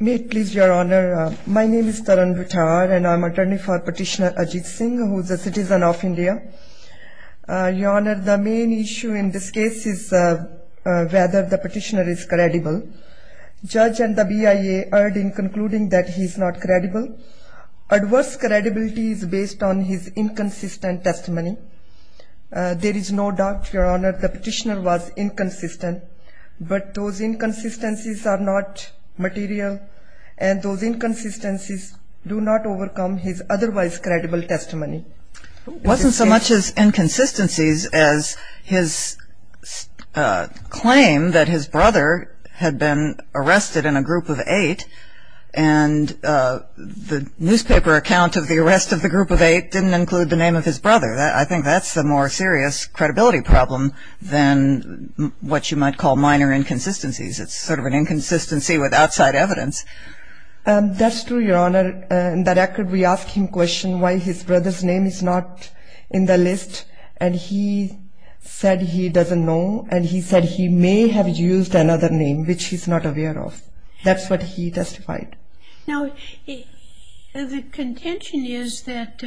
My name is Taran Vithar and I am an attorney for Petitioner Ajit Singh, who is a citizen of India. Your Honour, the main issue in this case is whether the petitioner is credible. Judge and the BIA are in concluding that he is not credible. Adverse credibility is based on his inconsistent testimony. There is no doubt, Your Honour, the petitioner was inconsistent. But those inconsistencies are not material and those inconsistencies do not overcome his otherwise credible testimony. It wasn't so much as inconsistencies as his claim that his brother had been arrested in a group of eight and the newspaper account of the arrest of the group of eight didn't include the name of his brother. I think that's the more serious credibility problem than what you might call minor inconsistencies. It's sort of an inconsistency with outside evidence. That's true, Your Honour. In that record, we asked him a question why his brother's name is not in the list and he said he doesn't know and he said he may have used another name which he's not aware of. That's what he testified. Now, the contention is that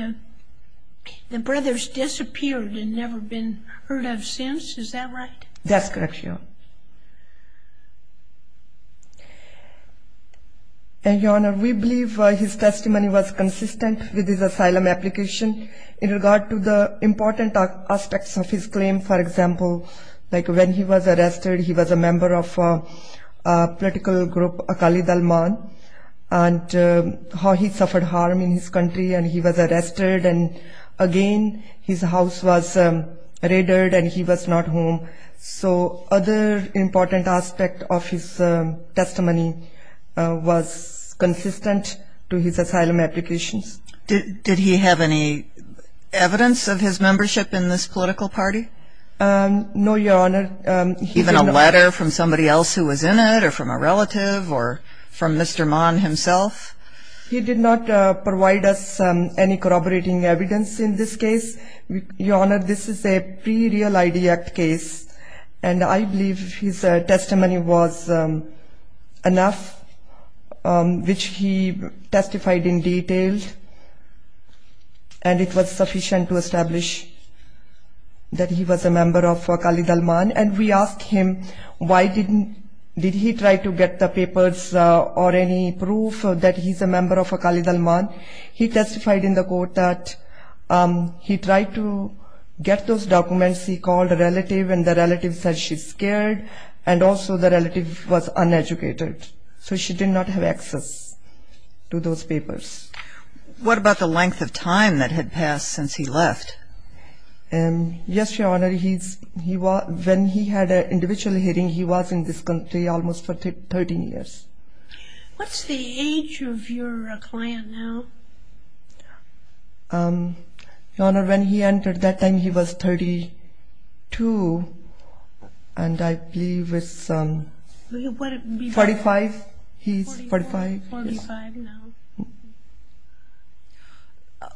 the brothers disappeared and never been heard of since. Is that right? That's correct, Your Honour. And, Your Honour, we believe his testimony was consistent with his asylum application. In regard to the important aspects of his claim, for example, like when he was arrested, he was a member of a political group, Akali Dalman, and how he suffered harm in his country and he was arrested and, again, his house was raided and he was not home. So other important aspects of his testimony was consistent to his asylum applications. Did he have any evidence of his membership in this political party? No, Your Honour. Even a letter from somebody else who was in it or from a relative or from Mr. Mann himself? He did not provide us any corroborating evidence in this case. Your Honour, this is a pre-Real ID Act case and I believe his testimony was enough, which he testified in detail and it was sufficient to establish that he was a member of Akali Dalman and we asked him why did he try to get the papers or any proof that he's a member of Akali Dalman. He testified in the court that he tried to get those documents he called a relative and the relative said she's scared and also the relative was uneducated. So she did not have access to those papers. What about the length of time that had passed since he left? Yes, Your Honour, when he had an individual hearing he was in this country almost for 13 years. What's the age of your client now? Your Honour, when he entered that time he was 32 and I believe it's 45, he's 45.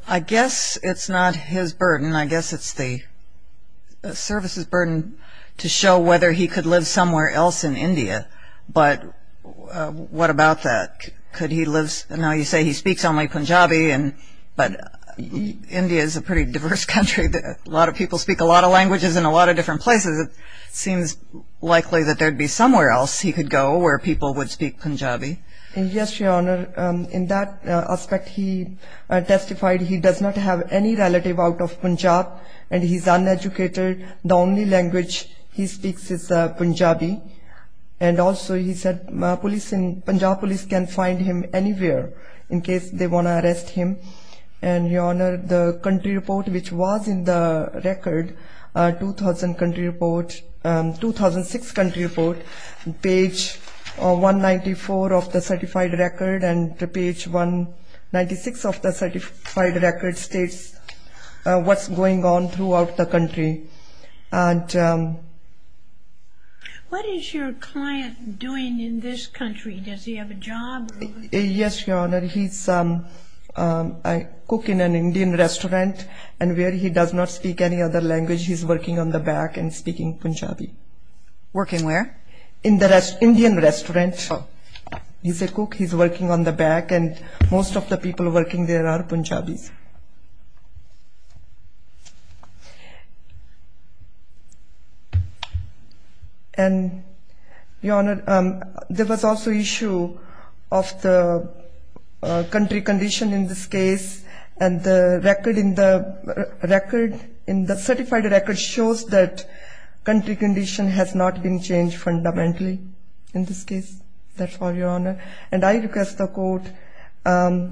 I guess it's not his burden, I guess it's the service's burden to show whether he could live somewhere else in India, but what about that? Now you say he speaks only Punjabi, but India is a pretty diverse country. A lot of people speak a lot of languages in a lot of different places. It seems likely that there would be somewhere else he could go where people would speak Punjabi. Yes, Your Honour, in that aspect he testified he does not have any relative out of Punjab and he's uneducated, the only language he speaks is Punjabi and also he said Punjab police can find him anywhere in case they want to arrest him. Your Honour, the country report which was in the record, 2006 country report, page 194 of the certified record and page 196 of the certified record states what's going on throughout the country. What is your client doing in this country? Does he have a job? Yes, Your Honour, he's a cook in an Indian restaurant and where he does not speak any other language, he's working on the back and speaking Punjabi. Working where? In the Indian restaurant. He's a cook, he's working on the back and most of the people working there are Punjabis. And, Your Honour, there was also issue of the country condition in this case and the record in the certified record shows that country condition has not been changed fundamentally in this case, that's all, Your Honour, and I request the court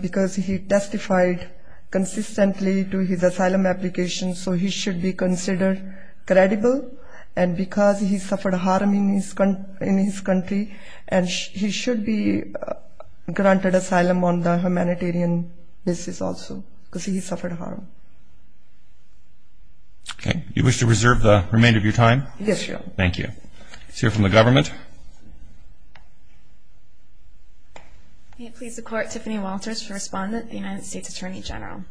because he testified consistently to his asylum application, so he should be considered credible and because he suffered harm in his country and he should be granted asylum on the humanitarian basis also because he suffered harm. Okay, you wish to reserve the remainder of your time? Yes, Your Honour. Thank you. Let's hear from the government. May it please the court, Tiffany Walters for respondent, the United States Attorney General.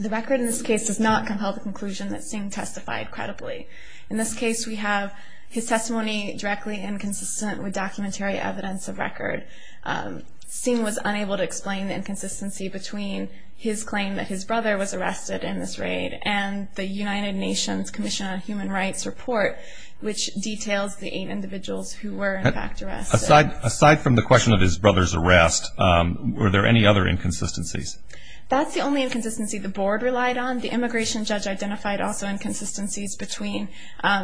The record in this case does not compel the conclusion that Singh testified credibly. In this case we have his testimony directly inconsistent with documentary evidence of record. Singh was unable to explain the inconsistency between his claim that his brother was arrested in this raid and the United Nations Commission on Human Rights report which details the eight individuals who were in fact arrested. Aside from the question of his brother's arrest, were there any other inconsistencies? That's the only inconsistency the board relied on. The immigration judge identified also inconsistencies between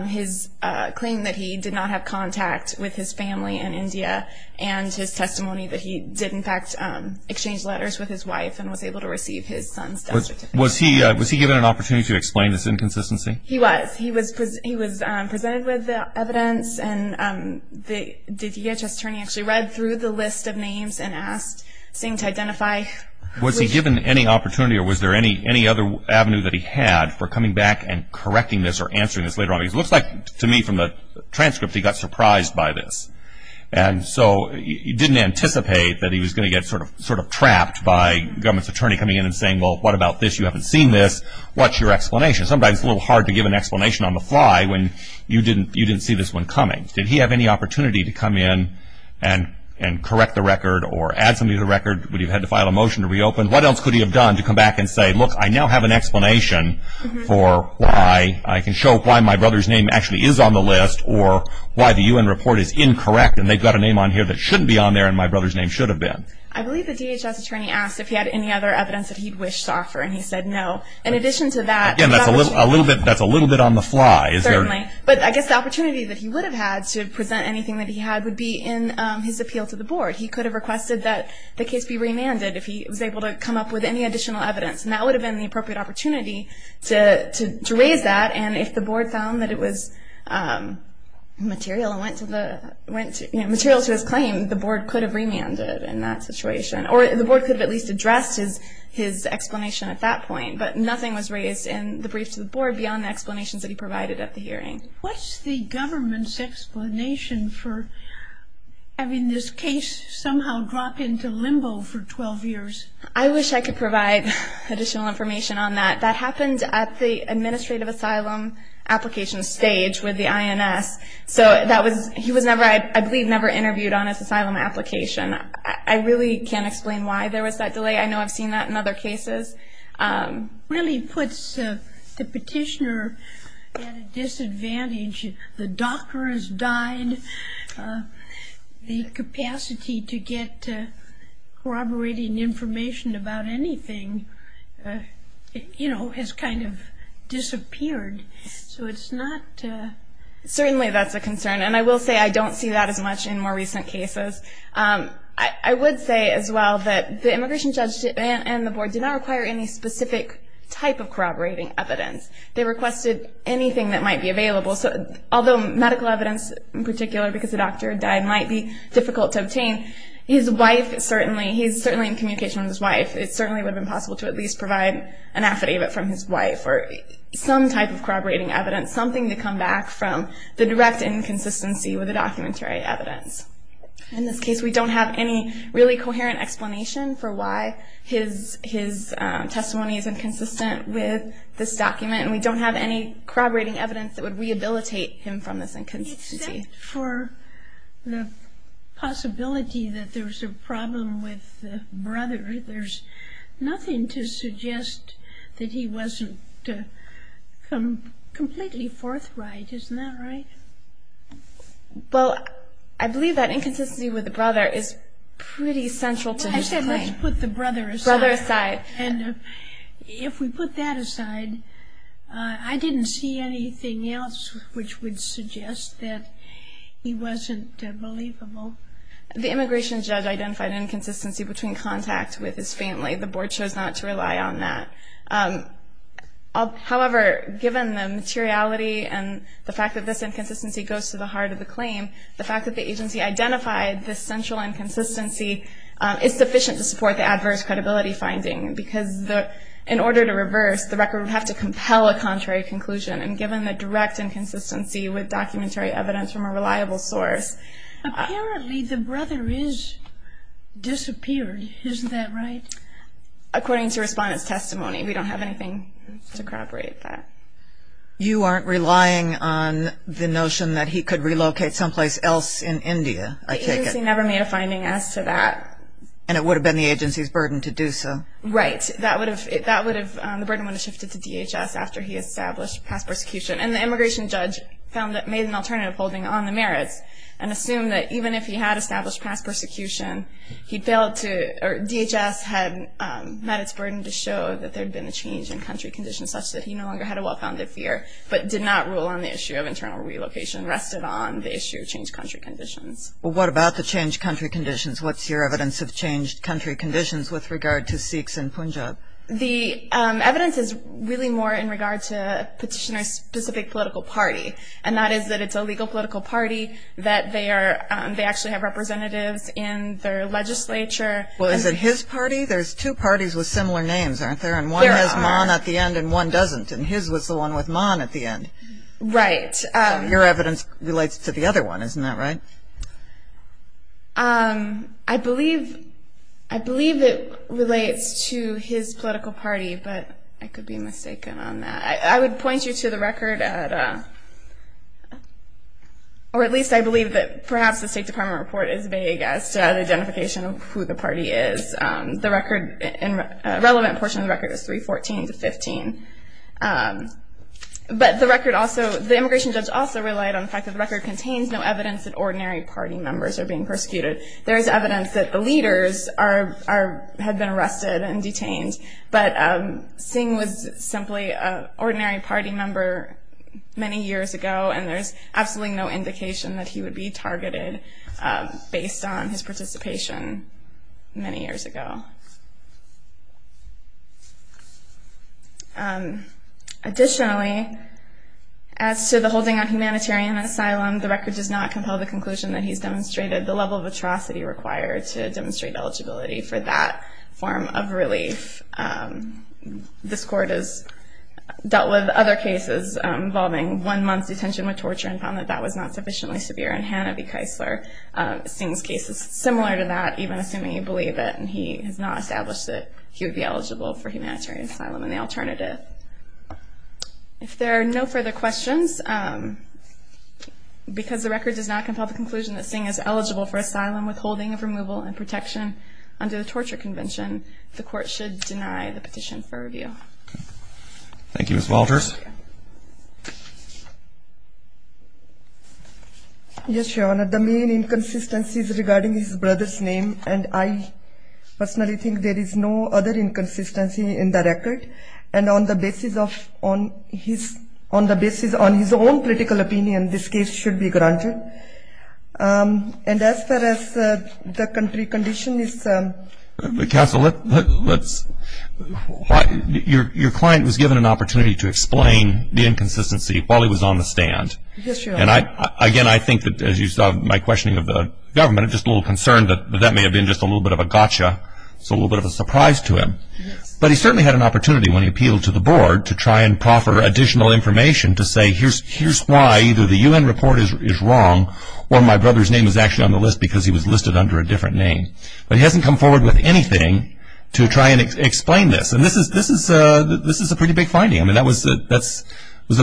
his claim that he did not have contact with his family in India and his testimony that he did in fact exchange letters with his wife and was able to receive his son's death certificate. Was he given an opportunity to explain this inconsistency? He was. He was presented with the evidence and the DHS attorney actually read through the list of names and asked Singh to identify which... Was he given any opportunity or was there any other avenue that he had for coming back and correcting this or answering this later on? Because it looks like to me from the transcript he got surprised by this. And so he didn't anticipate that he was going to get sort of trapped by the government's attorney coming in and saying, well, what about this? You haven't seen this. What's your explanation? Sometimes it's a little hard to give an explanation on the fly when you didn't see this one coming. Did he have any opportunity to come in and correct the record or add something to the record? Would he have had to file a motion to reopen? What else could he have done to come back and say, look, I now have an explanation for why... I can show why my brother's name actually is on the list or why the UN report is incorrect and they've got a name on here that shouldn't be on there and my brother's name should have been. I believe the DHS attorney asked if he had any other evidence that he wished to offer and he said no. In addition to that... Again, that's a little bit on the fly. Certainly. But I guess the opportunity that he would have had to present anything that he had would be in his appeal to the board. He could have requested that the case be remanded if he was able to come up with any additional evidence. And that would have been the appropriate opportunity to raise that. And if the board found that it was material to his claim, the board could have remanded in that situation. Or the board could have at least addressed his explanation at that point. But nothing was raised in the brief to the board beyond the explanations that he provided at the hearing. What's the government's explanation for having this case somehow drop into limbo for 12 years? I wish I could provide additional information on that. That happened at the administrative asylum application stage with the INS. So he was, I believe, never interviewed on his asylum application. I really can't explain why there was that delay. I know I've seen that in other cases. It really puts the petitioner at a disadvantage. The doctor has died. The capacity to get corroborating information about anything, you know, has kind of disappeared. So it's not... Certainly that's a concern. And I will say I don't see that as much in more recent cases. I would say as well that the immigration judge and the board did not require any specific type of corroborating evidence. They requested anything that might be available. Although medical evidence in particular, because the doctor died, might be difficult to obtain. His wife certainly, he's certainly in communication with his wife. It certainly would have been possible to at least provide an affidavit from his wife or some type of corroborating evidence, something to come back from the direct inconsistency with the documentary evidence. In this case, we don't have any really coherent explanation for why his testimony is inconsistent with this document. And we don't have any corroborating evidence that would rehabilitate him from this inconsistency. Except for the possibility that there's a problem with the brother. There's nothing to suggest that he wasn't completely forthright. Isn't that right? Well, I believe that inconsistency with the brother is pretty central to his claim. I said let's put the brother aside. Brother aside. If we put that aside, I didn't see anything else which would suggest that he wasn't believable. The immigration judge identified an inconsistency between contact with his family. The board chose not to rely on that. However, given the materiality and the fact that this inconsistency goes to the heart of the claim, the fact that the agency identified this central inconsistency is sufficient to support the adverse credibility finding. Because in order to reverse, the record would have to compel a contrary conclusion. And given the direct inconsistency with documentary evidence from a reliable source. Apparently the brother is disappeared. Isn't that right? According to respondent's testimony. We don't have anything to corroborate that. You aren't relying on the notion that he could relocate someplace else in India. The agency never made a finding as to that. And it would have been the agency's burden to do so. Right. That would have, the burden would have shifted to DHS after he established past persecution. And the immigration judge made an alternative holding on the merits. And assumed that even if he had established past persecution, DHS had met its burden to show that there had been a change in country conditions such that he no longer had a well-founded fear. But did not rule on the issue of internal relocation. Rested on the issue of changed country conditions. Well, what about the changed country conditions? What's your evidence of changed country conditions with regard to Sikhs in Punjab? The evidence is really more in regard to a petitioner's specific political party. And that is that it's a legal political party. That they are, they actually have representatives in their legislature. Well, is it his party? There's two parties with similar names, aren't there? And one has Mon at the end and one doesn't. And his was the one with Mon at the end. Right. Your evidence relates to the other one. Isn't that right? I believe, I believe it relates to his political party. But I could be mistaken on that. I would point you to the record at, or at least I believe that perhaps the State Department report is vague as to the identification of who the party is. The record, relevant portion of the record is 314 to 15. But the record also, the immigration judge also relied on the fact that the record contains no evidence that ordinary party members are being persecuted. There is evidence that the leaders are, had been arrested and detained. But Singh was simply an ordinary party member many years ago. And there's absolutely no indication that he would be targeted based on his participation many years ago. Additionally, as to the holding on humanitarian asylum, the record does not compel the conclusion that he's demonstrated the level of atrocity required to demonstrate eligibility for that form of relief. This court has dealt with other cases involving one month's detention with torture and found that that was not sufficiently severe. And Hannah B. Keisler, Singh's case is similar to that, even assuming you believe it. And he has not established that he would be eligible for humanitarian asylum in the alternative. If there are no further questions, because the record does not compel the conclusion that Singh is eligible for asylum withholding of removal and protection under the Torture Convention, the court should deny the petition for review. Thank you, Ms. Walters. Yes, Your Honor, the main inconsistency is regarding his brother's name. And I personally think there is no other inconsistency in the record. And on the basis of his own political opinion, this case should be granted. And as far as the country condition is concerned. Counsel, your client was given an opportunity to explain the inconsistency while he was on the stand. Yes, Your Honor. And again, I think that as you saw my questioning of the government, I'm just a little concerned that that may have been just a little bit of a gotcha, so a little bit of a surprise to him. But he certainly had an opportunity when he appealed to the board to try and proffer additional information to say here's why either the U.N. report is wrong or my brother's name is actually on the list because he was listed under a different name. But he hasn't come forward with anything to try and explain this. And this is a pretty big finding. I mean, that was a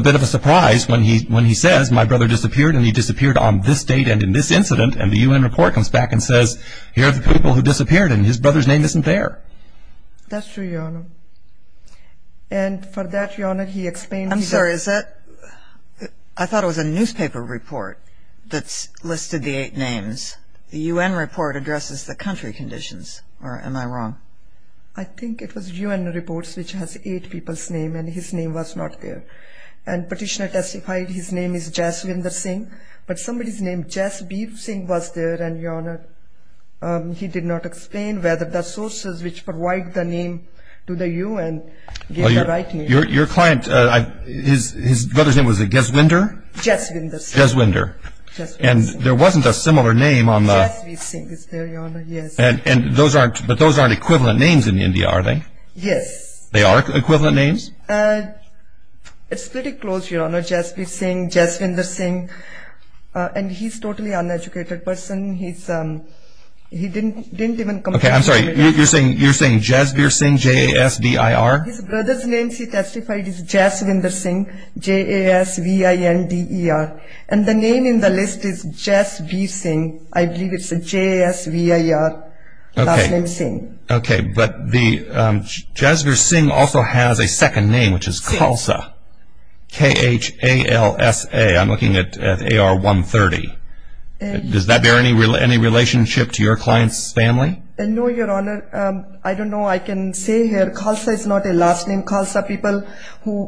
bit of a surprise when he says my brother disappeared and he disappeared on this date and in this incident. And the U.N. report comes back and says here are the people who disappeared That's true, Your Honor. And for that, Your Honor, he explained that I'm sorry, I thought it was a newspaper report that listed the eight names. The U.N. report addresses the country conditions, or am I wrong? I think it was U.N. reports which has eight people's names and his name was not there. And petitioner testified his name is Jaswinder Singh, but somebody's name Jasbir Singh was there and, Your Honor, he did not explain whether the sources which provide the name to the U.N. gave the right name. Your client, his brother's name was Jaswinder? Jaswinder Singh. Jaswinder. And there wasn't a similar name on the Jasbir Singh is there, Your Honor, yes. But those aren't equivalent names in India, are they? Yes. They are equivalent names? It's pretty close, Your Honor, Jasbir Singh, Jaswinder Singh. And he's a totally uneducated person. He didn't even come to the committee. Okay, I'm sorry, you're saying Jasbir Singh, J-A-S-B-I-R? His brother's name, she testified, is Jaswinder Singh, J-A-S-V-I-N-D-E-R. And the name in the list is Jasbir Singh. I believe it's J-A-S-V-I-R, last name Singh. Okay, but Jasbir Singh also has a second name, which is Khalsa, K-H-A-L-S-A. I'm looking at AR-130. Does that bear any relationship to your client's family? No, Your Honor. I don't know. I can say here Khalsa is not a last name. Khalsa people,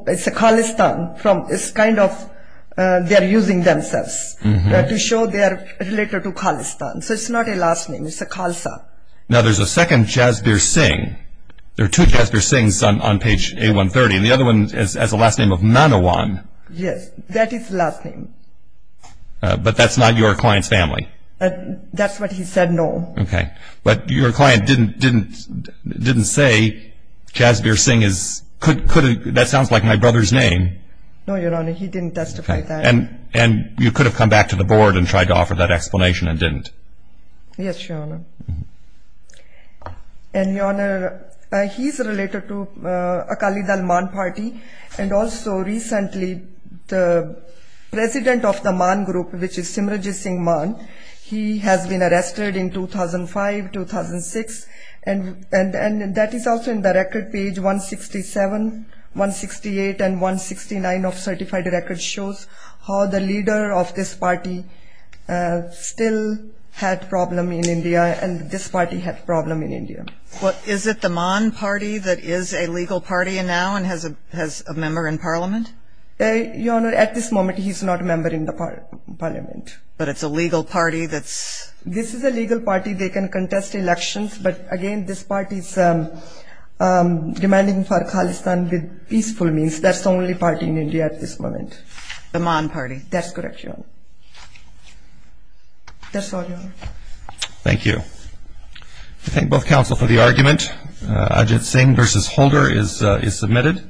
it's a Khalistan. It's kind of they're using themselves to show they are related to Khalistan. So it's not a last name. It's a Khalsa. Now, there's a second Jasbir Singh. There are two Jasbir Singhs on page A-130. The other one has a last name of Manawan. Yes, that is last name. But that's not your client's family. That's what he said, no. Okay. But your client didn't say Jasbir Singh is, that sounds like my brother's name. No, Your Honor. He didn't testify to that. And you could have come back to the board and tried to offer that explanation and didn't. Yes, Your Honor. And, Your Honor, he's related to Akali Dal Man Party. And also, recently, the president of the Man Group, which is Simran Singh Man, he has been arrested in 2005, 2006. And that is also in the record page 167, 168, and 169 of certified records which shows how the leader of this party still had problem in India and this party had problem in India. Well, is it the Man Party that is a legal party now and has a member in parliament? Your Honor, at this moment, he's not a member in the parliament. But it's a legal party that's? This is a legal party. They can contest elections. But, again, this party is demanding for Khalistan with peaceful means. That's the only party in India at this moment. The Man Party. That's correct, Your Honor. That's all, Your Honor. Thank you. I thank both counsel for the argument. Ajit Singh v. Holder is submitted.